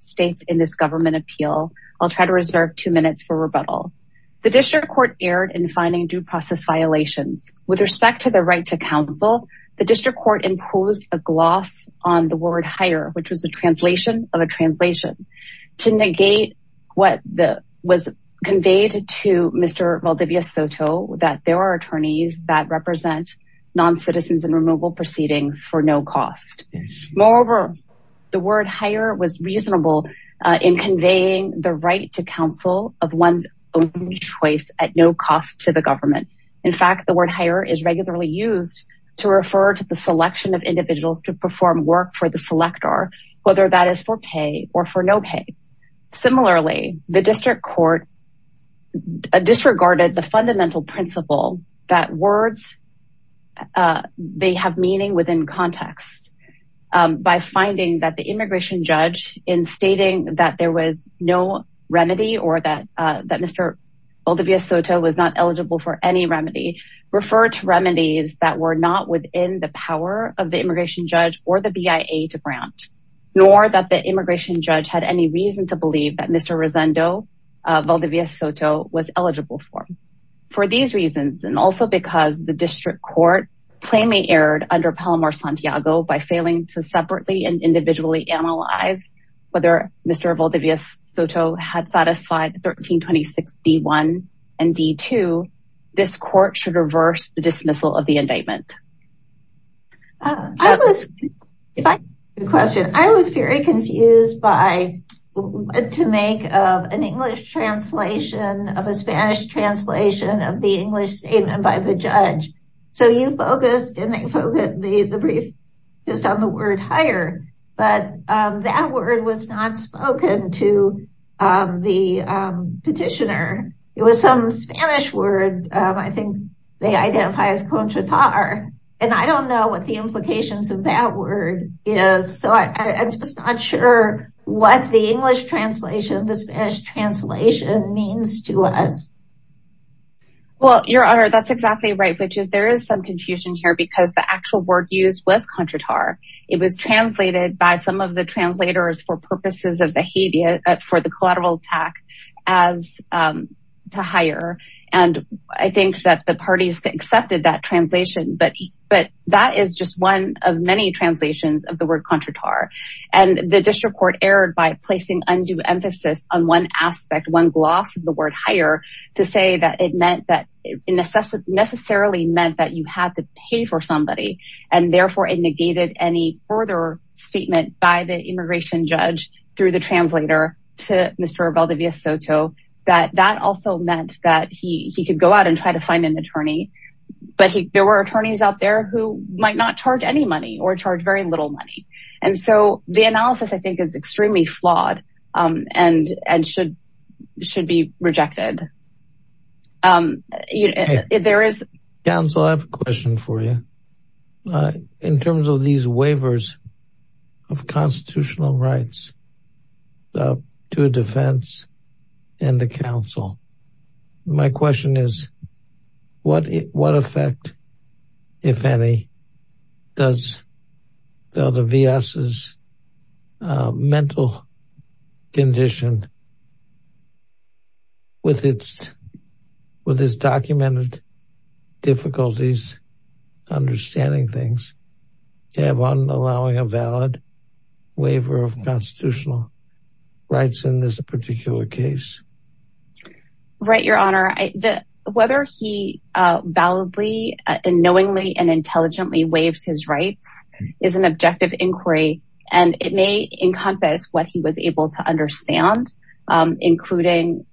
states in this government appeal. I'll try to reserve two minutes for rebuttal. The district court erred in finding due process violations. With respect to the right to counsel, the district court imposed a gloss on the word hire, which was a translation of a translation, to negate what was conveyed to Mr. Valdivias-Soto that there are attorneys that represent non-citizens in removal proceedings for no cost. Moreover, the word hire was reasonable in conveying the right to counsel of one's own choice at no cost to the government. In fact, the word hire is regularly used to refer to the selection of individuals to perform work for the selector, whether that is for pay or for no pay. Similarly, the district court disregarded the fundamental principle that words, they have meaning within context. By finding that the immigration judge in stating that there was no remedy or that Mr. Valdivias-Soto was not eligible for any remedy, referred to remedies that were not within the power of the immigration judge or the BIA to grant, nor that the immigration judge had any reason to believe that Mr. Rosendo Valdivias-Soto was because the district court plainly erred under Palomar-Santiago by failing to separately and individually analyze whether Mr. Valdivias-Soto had satisfied 1326 D1 and D2, this court should reverse the dismissal of the indictment. I was, if I could question, I was very confused by to make an English translation of a Spanish translation of the English statement by the judge. So you focused and they focused the brief just on the word hire, but that word was not spoken to the petitioner. It was some Spanish word, I think they identify as conchatar, and I don't know what the implications of that word is. So I'm just not sure what the English translation, the Spanish translation means to us. Well, your honor, that's exactly right, which is there is some confusion here because the actual word used was conchatar. It was translated by some of the translators for purposes of the collateral attack as to hire. And I think that the parties accepted that translation, but that is just one of many translations of the word conchatar. And the district court erred by placing undue emphasis on one aspect, one gloss of the word hire to say that it meant that it necessarily meant that you had to pay for somebody and therefore it negated any further statement by the immigration judge through the translator to Mr. Valdivia Soto, that that also meant that he could go out and try to find an attorney, but there were attorneys out there who might not charge any money or charge very little money. And so the analysis I think is extremely flawed and should be rejected. Council, I have a question for you. In terms of these waivers of constitutional rights to a defense and the council, my question is what effect, if any, does Valdivia Soto's mental condition have on allowing a valid waiver of constitutional rights in this particular case? Right. Your honor, whether he validly and knowingly and intelligently waived his rights is an objective inquiry and it may encompass what he was able to understand. Including,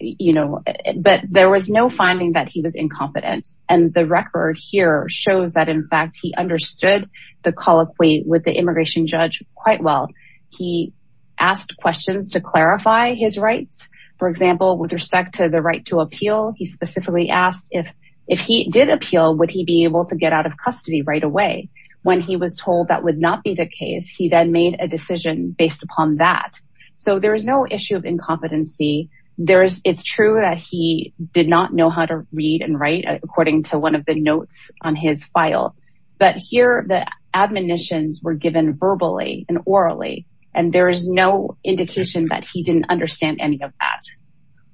you know, but there was no finding that he was incompetent and the record here shows that in fact he understood the colloquy with the immigration judge quite well. He asked questions to clarify his rights. For example, with respect to the right to appeal, he specifically asked if he did appeal, would he be able to get out of custody right away? When he was told that would not be the case, he then made a decision based upon that. So there is no issue of incompetency. It's true that he did not know how to read and write according to one of the notes on his file, but here the admonitions were given verbally and orally and there is no indication that he didn't understand any of that.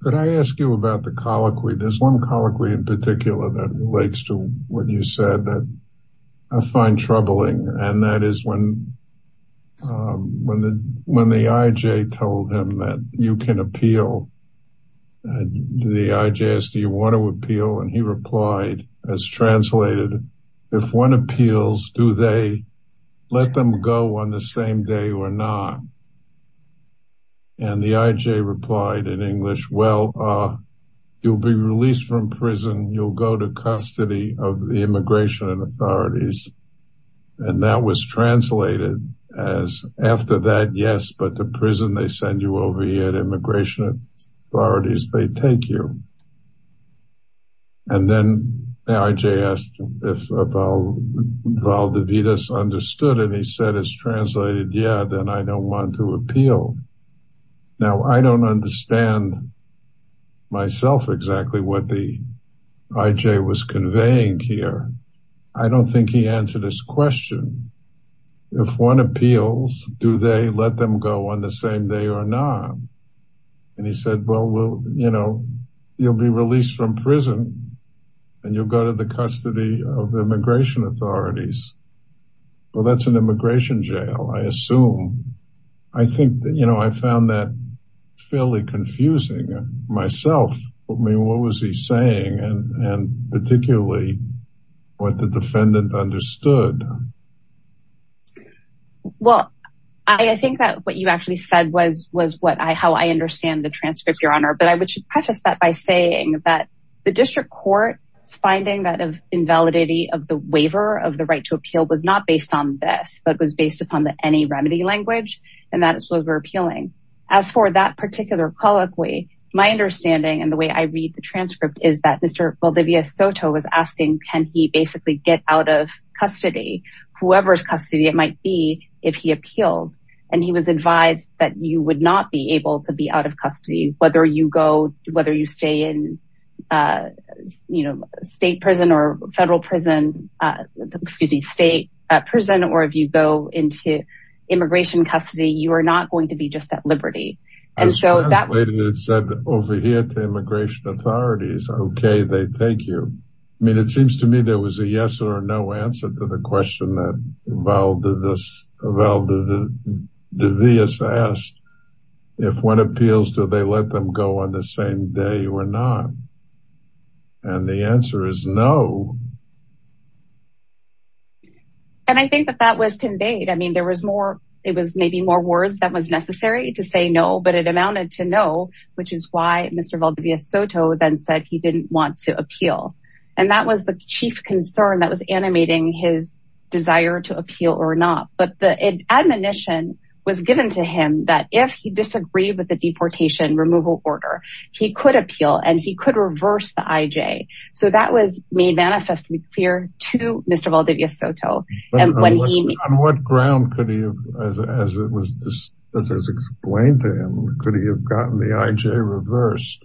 Could I ask you about the colloquy? There's one colloquy in particular that relates to what you said that I find troubling and that is when the IJ told him that you can appeal. The IJ asked, do you want to appeal? And he replied, as translated, if one appeals, do they let them go on the same day or not? And the IJ replied in English, well, you'll be released from prison, you'll go to custody of the immigration authorities. And that was translated as after that, yes, but the prison, they send you over here, the immigration authorities, they take you. And then the IJ asked if Valdez understood and he said, as translated, yeah, then I don't want to appeal. Now, I don't understand myself exactly what the IJ was conveying here. I don't think he answered his question. If one appeals, do they let them go on the same day or not? And he said, well, you'll be released from prison and you'll go to the custody of the immigration authorities. Well, that's an immigration jail, I assume. I think that I found that fairly confusing myself. I mean, what was he saying and particularly what the defendant understood? Well, I think that what you actually said was how I understand the transcript, Your Honor, but I would just preface that by saying that the district court's finding that of invalidity of the waiver of the right to appeal was not based on this, but it was based upon the any remedy language and that is what we're appealing. As for that particular colloquy, my understanding and the way I read the transcript is that Mr. Valdivia Soto was asking, can he get out of custody, whoever's custody it might be, if he appeals. And he was advised that you would not be able to be out of custody, whether you go, whether you stay in state prison or federal prison, excuse me, state prison, or if you go into immigration custody, you are not going to be just at liberty. I was translating it over here to immigration authorities. Okay, they take you. I mean, it seems to me there was a yes or no answer to the question that Valdivia Soto asked, if one appeals, do they let them go on the same day or not? And the answer is no. And I think that that was conveyed. I mean, there was more, it was maybe more words that was necessary to say no, but it amounted to no, which is why Mr. Valdivia Soto then said he didn't want to appeal. And that was the chief concern that was animating his desire to appeal or not. But the admonition was given to him that if he disagreed with the deportation removal order, he could appeal and he could reverse the IJ. So that was made manifestly clear to Mr. Valdivia Soto. On what ground could he have, as it was explained to him, could he have gotten the IJ reversed?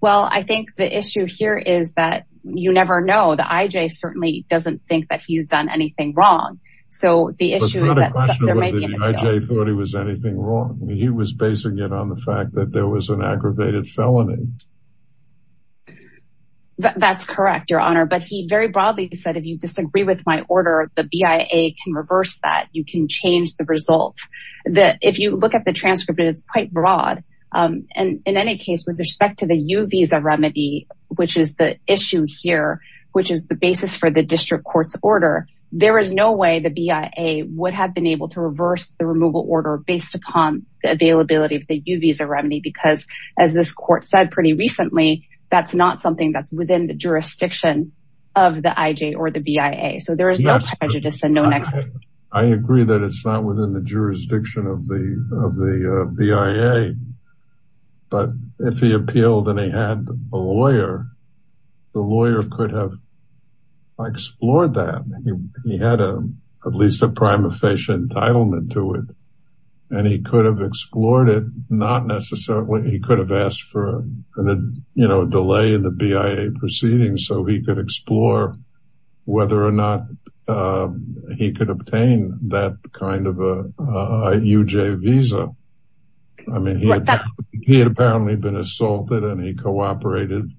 Well, I think the issue here is that you never know. The IJ certainly doesn't think that he's done anything wrong. So the issue is that there might be an appeal. But it's not a question whether the IJ thought he was anything wrong. I mean, he was basing it on the fact that there was an aggravated felony. That's correct, Your Honor. But he very broadly said, if you disagree with my order, the BIA can reverse that. You can change the result. If you look at the transcript, it's quite broad. And in any case, with respect to the U visa remedy, which is the issue here, which is the basis for the district court's order, there is no way the BIA would have been able to reverse the removal order based upon the availability of the U visa remedy. Because as this court said pretty recently, that's not something that's within the jurisdiction of the IJ or the BIA. So there is no prejudice and no nexus. I agree that it's not within the jurisdiction of the BIA. But if he appealed and he had a lawyer, the lawyer could have explored that. He had at least a prime official entitlement to it. And he could have explored it, not necessarily, he could have asked for a delay in the BIA proceedings so he could explore whether or not he could obtain that kind of a UJ visa. I mean, he had apparently been assaulted and he cooperated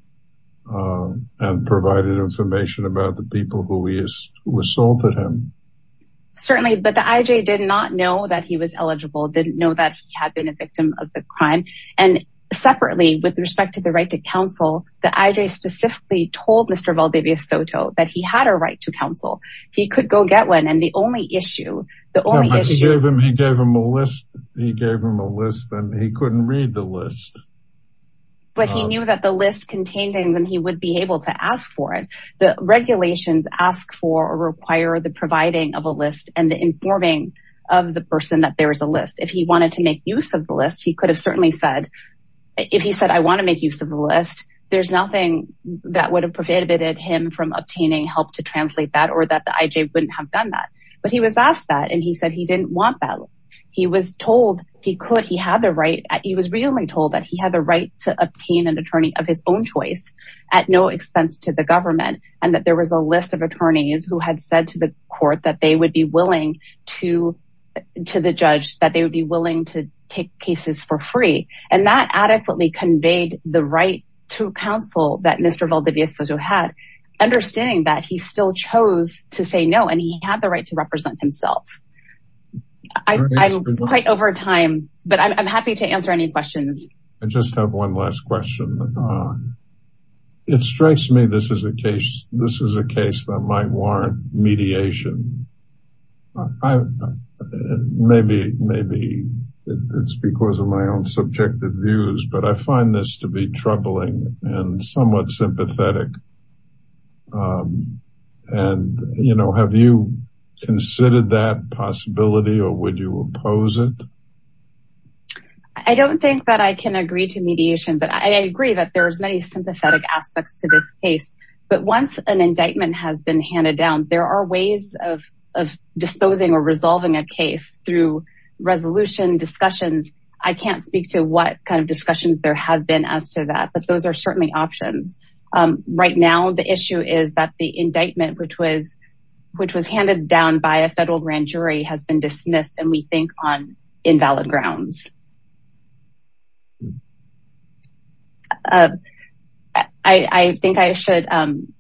and provided information about the people who assaulted him. Certainly, but the IJ did not know that he was eligible, didn't know that he had been a victim of the crime. And separately, with respect to the right to counsel, the IJ specifically told Mr. Valdivia Soto that he had a right to counsel, he could go get one. And the only issue, he gave him a list, he gave him a list and he couldn't read the list. But he knew that the list contained things and he would be able to ask for it. The regulations ask for or require the providing of a list and the informing of the person that is a list. If he wanted to make use of the list, he could have certainly said, if he said, I want to make use of the list, there's nothing that would have prevented him from obtaining help to translate that or that the IJ wouldn't have done that. But he was asked that and he said he didn't want that. He was told he could, he had the right, he was really told that he had the right to obtain an attorney of his own choice at no expense to the government. And that there was a list of attorneys who had said to the court that they would be willing to, to the judge that they would be willing to take cases for free. And that adequately conveyed the right to counsel that Mr. Valdivia Soto had, understanding that he still chose to say no, and he had the right to represent himself. I'm quite over time, but I'm happy to answer any questions. I just have one last question. It strikes me this is a case, this is a case that might warrant mediation. Maybe, maybe it's because of my own subjective views, but I find this to be troubling and somewhat sympathetic. And, you know, have you considered that possibility or would you oppose it? I don't think that I can agree to mediation, but I agree that there's many sympathetic aspects to this case. But once an indictment has been handed down, there are ways of disposing or resolving a case through resolution discussions. I can't speak to what kind of discussions there have been as to that, but those are certainly options. Right now, the issue is that the indictment, which was, which was handed down by a federal grand jury has been dismissed and we think on invalid grounds. I think I should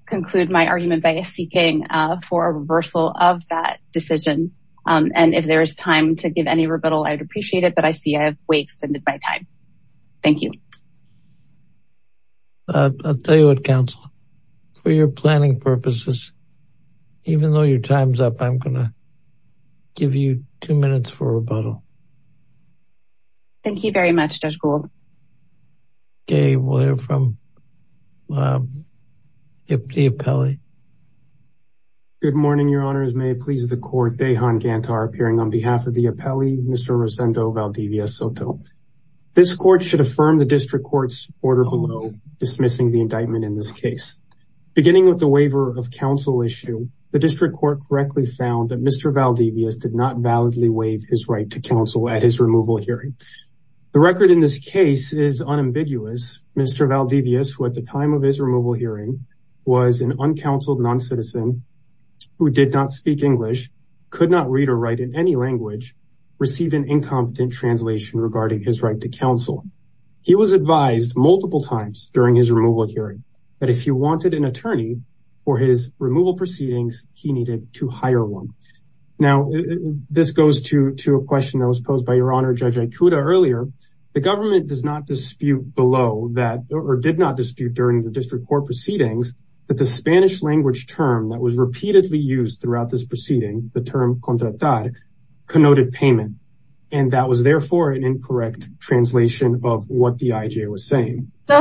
conclude my argument by seeking for a reversal of that decision. And if there is time to give any rebuttal, I'd appreciate it. But I see I have way extended my time. Thank you. I'll tell you what council for your planning purposes, even though your time's up, I'm going to give you two minutes for rebuttal. Thank you very much, Judge Gould. Okay, we'll hear from the appellee. Good morning, Your Honors. May it please the court, Dejan Gantar appearing on behalf of the appellee, Mr. Rosendo Valdivia Soto. This court should affirm the district court's order below dismissing the indictment in this case. Beginning with the found that Mr. Valdivia Soto did not validly waive his right to counsel at his removal hearing. The record in this case is unambiguous. Mr. Valdivia Soto, who at the time of his removal hearing was an uncounseled non-citizen who did not speak English, could not read or write in any language, received an incompetent translation regarding his right to counsel. He was advised multiple times during his removal hearing that if you wanted an attorney for his removal proceedings, he needed to hire one. Now, this goes to a question that was posed by Your Honor Judge Aikuda earlier. The government does not dispute below that, or did not dispute during the district court proceedings, that the Spanish language term that was repeatedly used throughout this proceeding, the term contratar, connoted payment. And that was therefore an incorrect translation of what the IJ was saying. The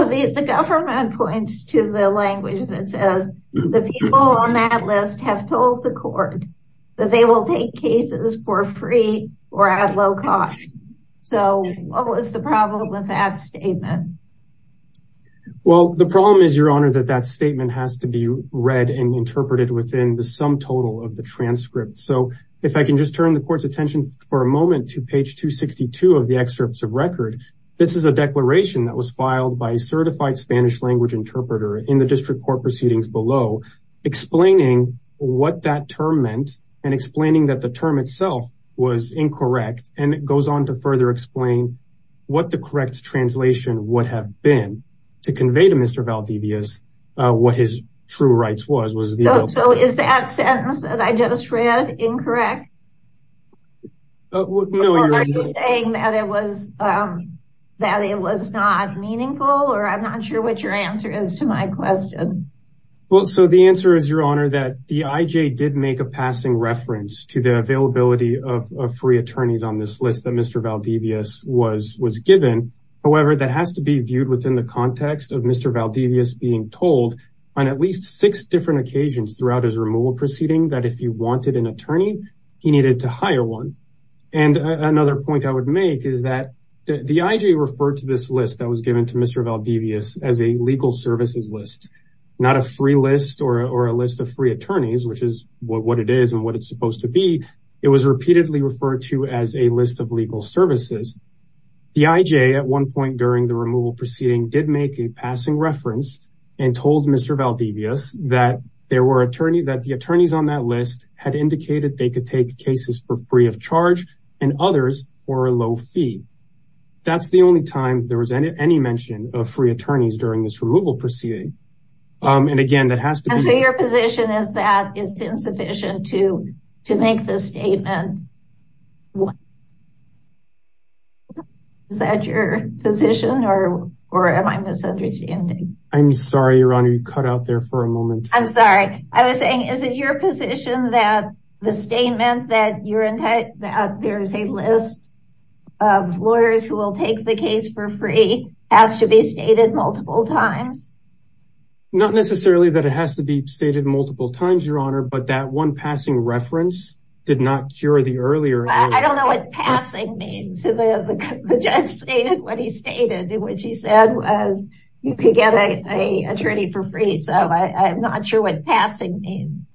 government points to the language that says the people on that list have told the court that they will take cases for free or at low cost. So, what was the problem with that statement? Well, the problem is, Your Honor, that that statement has to be read and interpreted within the sum total of the transcript. So, if I can just turn the court's attention for a moment to page 262 of the excerpts of record, this is a declaration that was filed by a certified language interpreter in the district court proceedings below, explaining what that term meant and explaining that the term itself was incorrect. And it goes on to further explain what the correct translation would have been to convey to Mr. Valdivias what his true rights was. So, is that sentence that I just read incorrect? Are you saying that it was not meaningful? Or I'm not sure what your answer is to my question. Well, so the answer is, Your Honor, that the IJ did make a passing reference to the availability of free attorneys on this list that Mr. Valdivias was given. However, that has to be viewed within the context of Mr. Valdivias being told on at least six different occasions throughout his career that he needed to hire one. And another point I would make is that the IJ referred to this list that was given to Mr. Valdivias as a legal services list, not a free list or a list of free attorneys, which is what it is and what it's supposed to be. It was repeatedly referred to as a list of legal services. The IJ at one point during the removal proceeding did make a passing reference and told Mr. Valdivias that the attorneys on that list had indicated they could take cases for free of charge and others for a low fee. That's the only time there was any mention of free attorneys during this removal proceeding. And again, that has to be... And so your position is that it's insufficient to make this statement? Is that your position or am I misunderstanding? I'm sorry, Your Honor, you cut out there for a moment. I'm sorry. I was saying, is it your position that the statement that there's a list of lawyers who will take the case for free has to be stated multiple times? Not necessarily that it has to be stated multiple times, Your Honor, but that one passing reference did not cure the earlier... I don't know what passing means. The judge stated what he stated, which he said was you could get an attorney for free. So I'm not sure what passing means.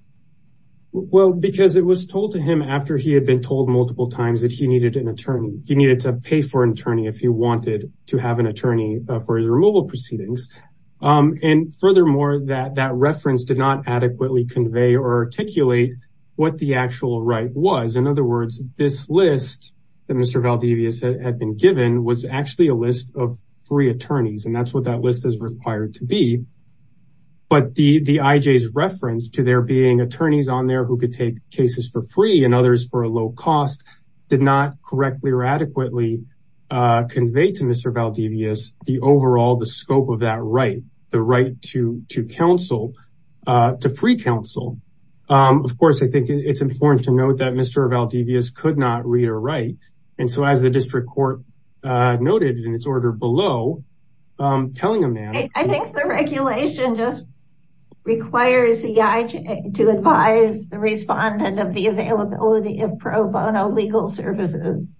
Well, because it was told to him after he had been told multiple times that he needed an attorney, he needed to pay for an attorney if he wanted to have an attorney for his removal proceedings. And furthermore, that reference did not adequately convey or articulate what the actual right was. In other words, this list that Mr. Valdivias had been given was actually a list of free attorneys, and that's what that list is required to be. But the IJ's reference to there being attorneys on there who could take cases for free and others for a low cost did not correctly or adequately convey to Mr. Valdivias the overall, the scope of that right, the right to counsel, to free counsel. Of course, I think it's important to note it in its order below, telling him that. I think the regulation just requires the IJ to advise the respondent of the availability of pro bono legal services.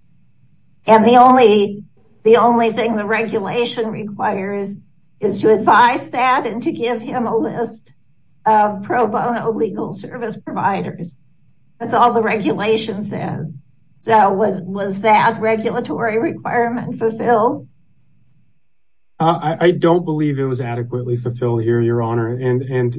And the only, the only thing the regulation requires is to advise that and to give him a list of pro bono legal service providers. That's all the regulation says. So was that regulatory requirement fulfilled? I don't believe it was adequately fulfilled here, Your Honor. And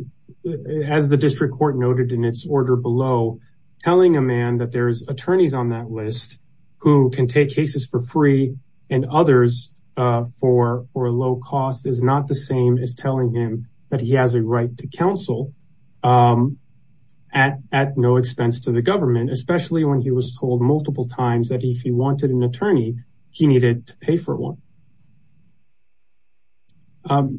as the district court noted in its order below, telling a man that there's attorneys on that list who can take cases for free and others for low cost is not the same as telling him that he has a right to counsel at no expense to the government, especially when he was told multiple times that if he wanted an attorney, he needed to pay for one.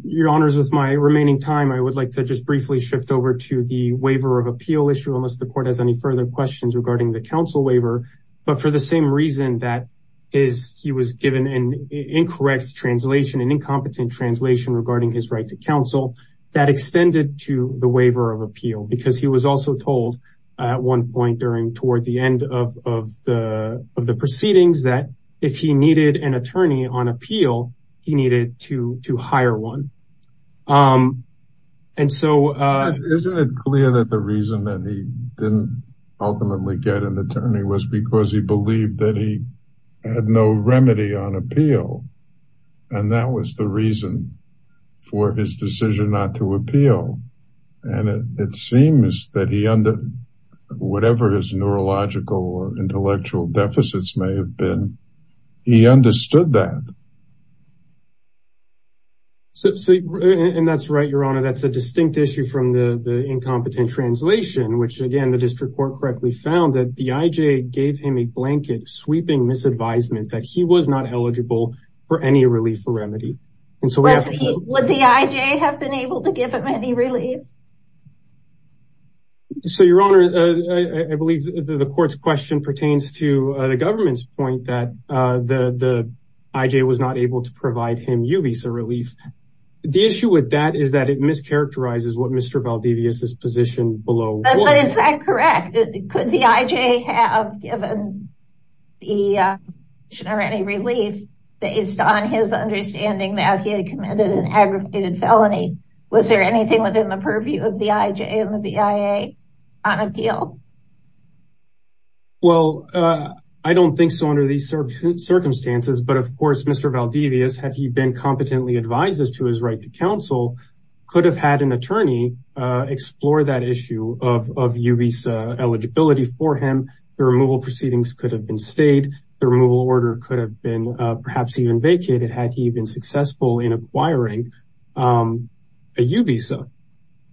Your Honors, with my remaining time, I would like to just briefly shift over to the waiver of appeal issue, unless the court has any further questions regarding the counsel waiver. But for the same reason that is, he was given an incorrect translation, an incompetent translation regarding his right to counsel that extended to the waiver of appeal, because he was also told at one point during toward the end of the proceedings that if he needed an attorney on appeal, he needed to hire one. Isn't it clear that the reason that he didn't ultimately get an attorney was because he believed that he had no remedy on appeal. And that was the reason for his decision not to appeal. And it seems that he under whatever his neurological or intellectual deficits may have been, he understood that. So, and that's right, Your Honor, that's a distinct issue from the incompetent translation, which again, the district court correctly found that the IJ gave him a blanket sweeping misadvisement that he was not eligible for any relief or remedy. So, would the IJ have been able to give him any relief? So, Your Honor, I believe the court's question pertains to the government's point that the IJ was not able to provide him UVISA relief. The issue with that is that it mischaracterizes what Mr. Valdivius is positioned below. But is that correct? Could the IJ have given him any relief based on his understanding that he had committed an aggravated felony? Was there anything within the purview of the IJ and the BIA on appeal? Well, I don't think so under these circumstances. But of course, Mr. Valdivius, had he been competently advised as to his right to counsel, could have had an attorney explore that issue of UVISA eligibility for him. The removal proceedings could have been stayed. The removal order could have been perhaps even vacated had he been successful in acquiring a UVISA.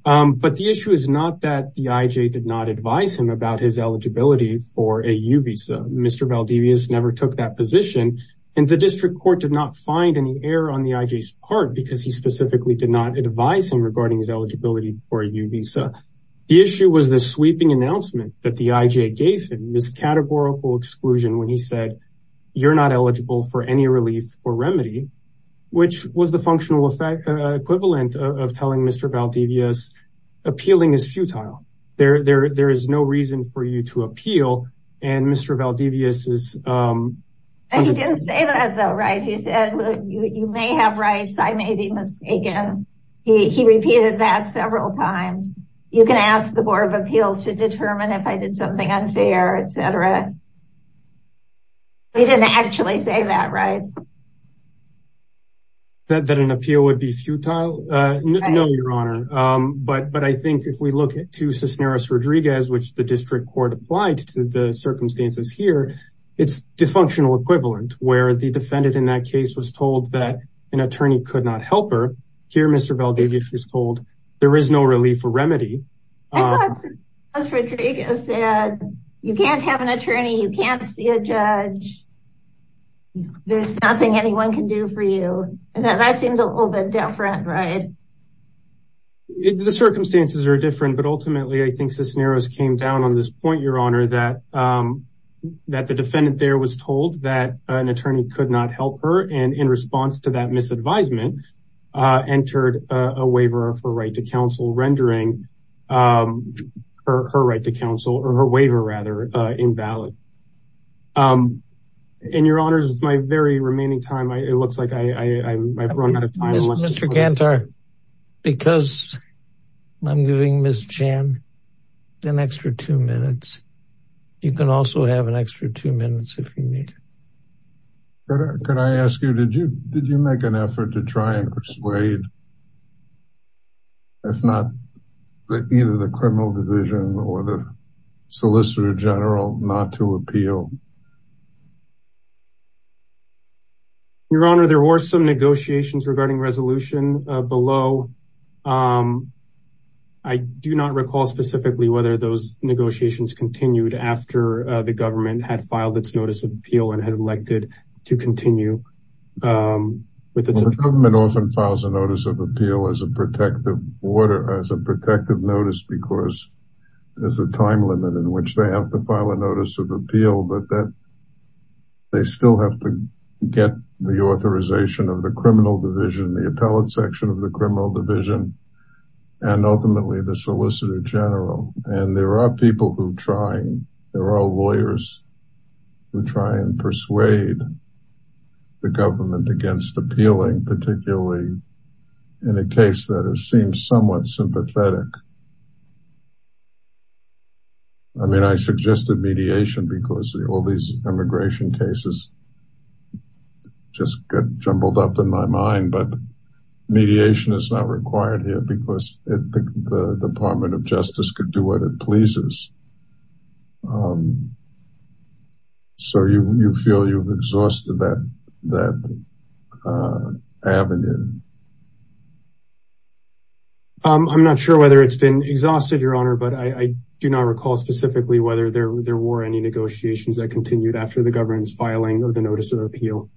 But the issue is not that the IJ did not advise him about his eligibility for a UVISA. Mr. Valdivius never took that position. And the district court did not find any error on the IJ's specifically did not advise him regarding his eligibility for UVISA. The issue was the sweeping announcement that the IJ gave him miscategorical exclusion when he said, you're not eligible for any relief or remedy, which was the functional effect equivalent of telling Mr. Valdivius, appealing is futile. There is no reason for you to appeal. And Mr. Valdivius is... You may have rights, I may be mistaken. He repeated that several times. You can ask the Board of Appeals to determine if I did something unfair, etc. They didn't actually say that, right? That an appeal would be futile? No, Your Honor. But I think if we look at to Cisneros Rodriguez, which the district court applied to the circumstances here, it's dysfunctional case was told that an attorney could not help her. Here, Mr. Valdivius was told, there is no relief or remedy. I thought Cisneros Rodriguez said, you can't have an attorney, you can't see a judge. There's nothing anyone can do for you. And that seemed a little bit down front, right? The circumstances are different. But ultimately, I think Cisneros came down on this point, Your Honor, that the defendant there was told that an attorney could not help her and in response to that misadvisement, entered a waiver of her right to counsel, rendering her right to counsel or her waiver rather, invalid. And Your Honors, with my very remaining time, it looks like I've run out of time. Mr. Kantor, because I'm giving Ms. Chan an extra two minutes, you can also have an extra two minutes if you need. Could I ask you, did you make an effort to try and persuade if not, either the criminal division or the solicitor general not to appeal? Your Honor, there were some negotiations regarding resolution below. I do not recall specifically whether those negotiations continued after the government had filed its notice of appeal and had elected to continue. The government often files a notice of appeal as a protective order, as a protective notice, because there's a time limit in which they have to file a notice of appeal. But they still have to get the authorization of the criminal division and ultimately the solicitor general. And there are people who try, there are lawyers who try and persuade the government against appealing, particularly in a case that has seemed somewhat sympathetic. I mean, I suggested mediation because all these immigration cases just got jumbled up in my mind, but mediation is not required here because the Department of Justice could do what it pleases. So, you feel you've exhausted that avenue? I'm not sure whether it's been exhausted, Your Honor, but I do not recall specifically whether there were any negotiations that continued after the government's filing of the notice of appeal.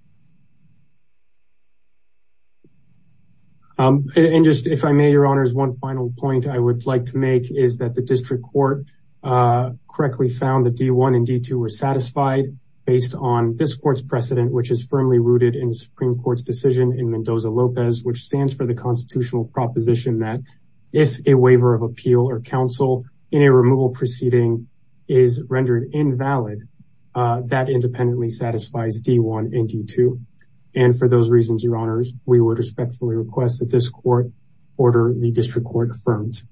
And just, if I may, Your Honor, one final point I would like to make is that the district court correctly found that D1 and D2 were satisfied based on this court's precedent, which is firmly rooted in the Supreme Court's decision in Mendoza-Lopez, which stands for the constitutional proposition that if a waiver of appeal or counsel in a removal proceeding is rendered invalid, that independently satisfies D1 and D2. And for those reasons, Your Honors, we would respectfully request that this court order the district court affirms.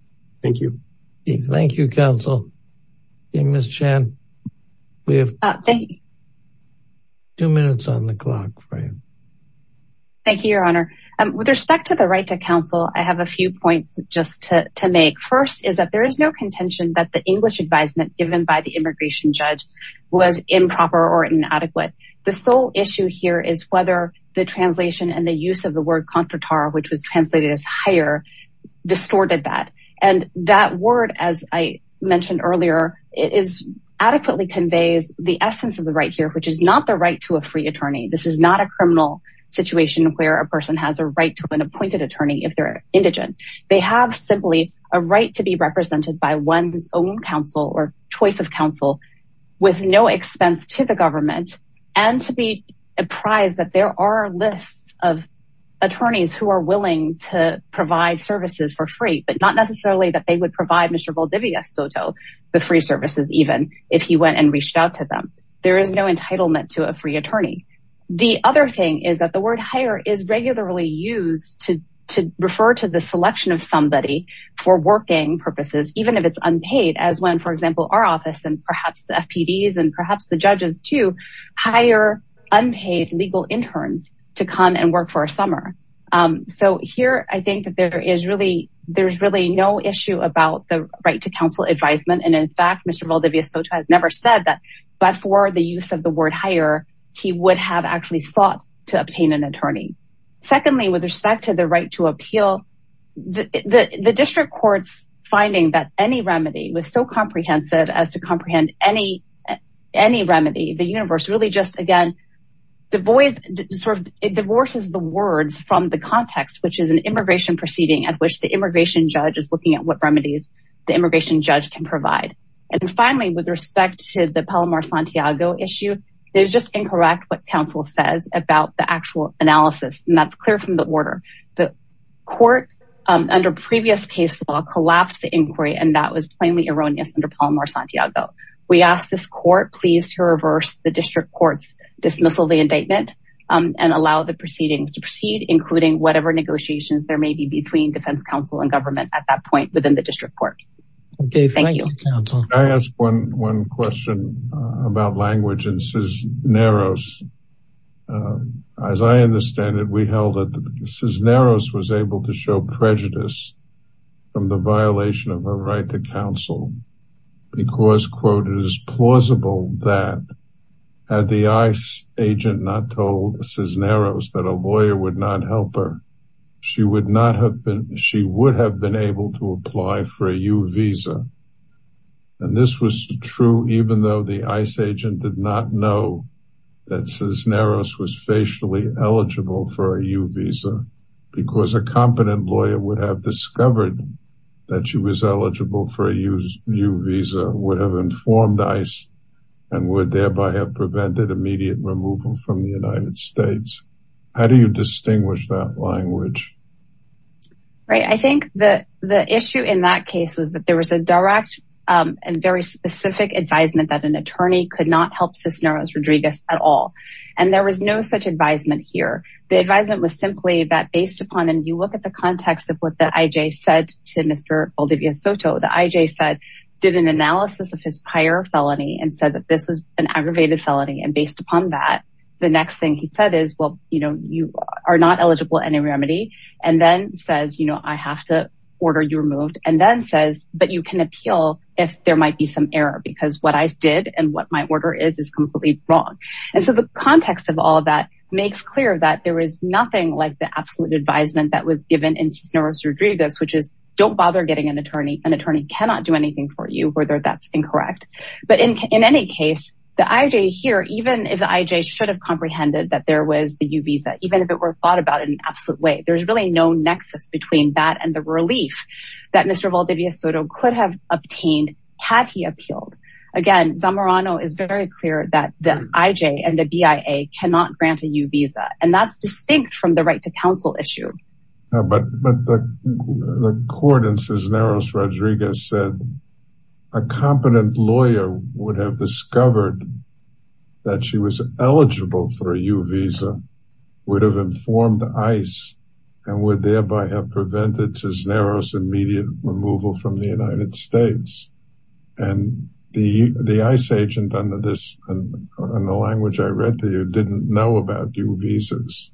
Thank you. Thank you, counsel. And Ms. Chan, we have two minutes on the clock for you. Thank you, Your Honor. With respect to the right to counsel, I have a few points just to make. First is that there is no contention that the English advisement given by the immigration judge was improper or inadequate. The sole issue here is whether the translation and the use of the word contratar, which was translated as hire, distorted that. And that word, as I mentioned earlier, adequately conveys the essence of the right here, which is not the right to a free attorney. This is not a criminal situation where a person has a right to an appointed attorney if they're indigent. They have simply a right to be represented by one's own counsel or choice of counsel with no expense to the government and to be apprised that there are lists of attorneys who are willing to provide services for free, but not necessarily that they would provide Mr. Valdivia Soto with free services even if he went and reached out to them. There is no entitlement to a free attorney. The other thing is that the word hire is regularly used to refer to the selection of somebody for working purposes, even if it's unpaid, as when, for example, our office and perhaps the FPDs and perhaps the judges, too, hire unpaid legal interns to come and work for a summer. So here I think that there is really no issue about the right to counsel advisement. In fact, Mr. Valdivia Soto has never said that, but for the use of the word hire, he would have actually sought to obtain an attorney. Secondly, with respect to the right to appeal, the district court's finding that any remedy was so comprehensive as to comprehend any remedy, the universe really just, again, divorces the words from the context, which is an immigration proceeding at which the immigration judge is looking at what remedies the immigration judge can provide. And finally, with respect to the Palomar-Santiago issue, it is just incorrect what counsel says about the actual analysis, and that's clear from the order. The court, under previous case law, collapsed the inquiry, and that was plainly erroneous under Palomar-Santiago. We ask this court, please, to reverse the district court's dismissal of the indictment and allow the proceedings to proceed, including whatever negotiations there may be between defense counsel and government at that point within the district court. Okay, thank you, counsel. Can I ask one question about language in Cisneros? As I understand it, we held that Cisneros was able to show prejudice from the violation of her right to counsel because, quote, it is plausible that had the ICE agent not told Cisneros that a lawyer would not help her, she would have been able to apply for a U visa. And this was true even though the ICE agent did not know that Cisneros was facially eligible for a U visa because a competent lawyer would have discovered that she was eligible for a U visa, would have informed ICE, and would thereby have prevented immediate removal from the United States. How do you distinguish that language? Right, I think the issue in that case was that there was a direct and very specific advisement that an attorney could not help Cisneros Rodriguez at all. And there was no such advisement here. The advisement was simply that based upon, and you look at the context of what the IJ said to Mr. Valdivia Soto, the IJ said, did an analysis of his prior felony and that this was an aggravated felony. And based upon that, the next thing he said is, well, you know, you are not eligible any remedy. And then says, you know, I have to order you removed. And then says, but you can appeal if there might be some error because what I did and what my order is, is completely wrong. And so the context of all of that makes clear that there is nothing like the absolute advisement that was given in Cisneros Rodriguez, which is don't bother getting an the IJ here, even if the IJ should have comprehended that there was the U visa, even if it were thought about in an absolute way, there's really no nexus between that and the relief that Mr. Valdivia Soto could have obtained had he appealed. Again, Zamorano is very clear that the IJ and the BIA cannot grant a U visa. And that's distinct from the right to counsel issue. But the court in Cisneros Rodriguez said a competent lawyer would have discovered that she was eligible for a U visa would have informed ICE and would thereby have prevented Cisneros immediate removal from the United States. And the ICE agent under this in the language I read to you, didn't know about U visas.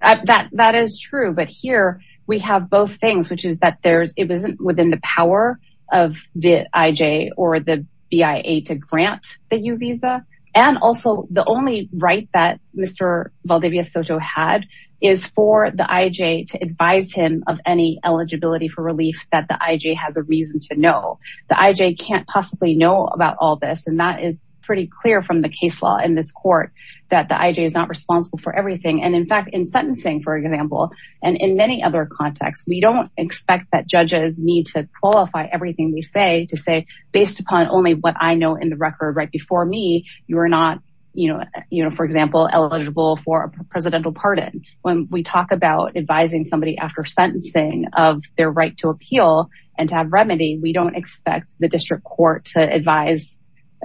That is true. But here we have both things, which is that there's, it wasn't within the power of the IJ or the BIA to grant the U visa. And also the only right that Mr. Valdivia Soto had is for the IJ to advise him of any eligibility for relief that the IJ has a reason to know. The IJ can't possibly know about all this. And that is pretty clear from the case law in this court that the IJ is not responsible for everything. And in fact, in sentencing, for example, and in many other contexts, we don't expect that judges need to qualify everything they say to say based upon only what I know in the record right before me, you are not, for example, eligible for a presidential pardon. When we talk about advising somebody after sentencing of their right to appeal and to have remedy, we don't expect the district court to advise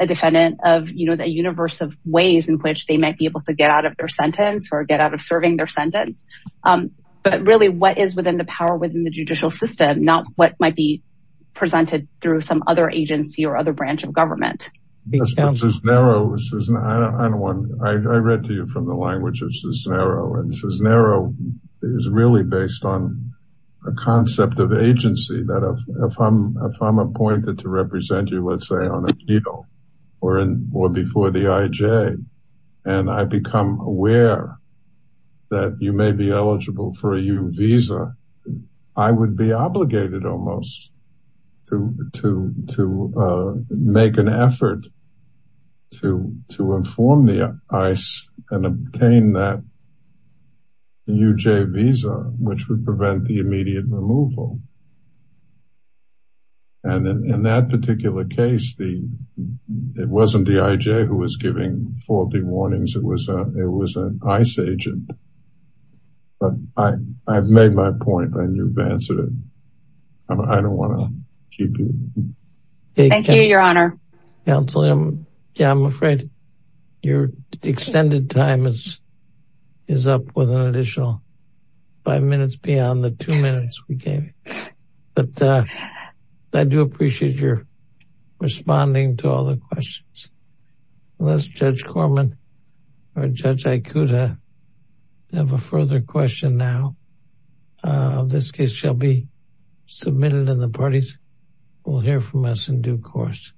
a defendant of the universe of ways in which they might be able to get out of their sentence or get out of serving their sentence. But really what is within the power within the judicial system, not what might be presented through some other agency or other branch of government. I read to you from the agency that if I'm appointed to represent you, let's say on a deal or before the IJ, and I become aware that you may be eligible for a U visa, I would be obligated almost to make an effort to inform the ICE and obtain that UJ visa, which would prevent the immediate removal. And then in that particular case, it wasn't the IJ who was giving faulty warnings, it was an ICE agent. But I've made my point and you've answered it. I don't want to keep it. Thank you, Your Honor. Yeah, I'm afraid your extended time is up with an additional five minutes beyond the two minutes we gave. But I do appreciate your responding to all the questions. Unless Judge Corman or Judge Ikuta have a further question now, this case shall be submitted and the parties will hear from us in due course.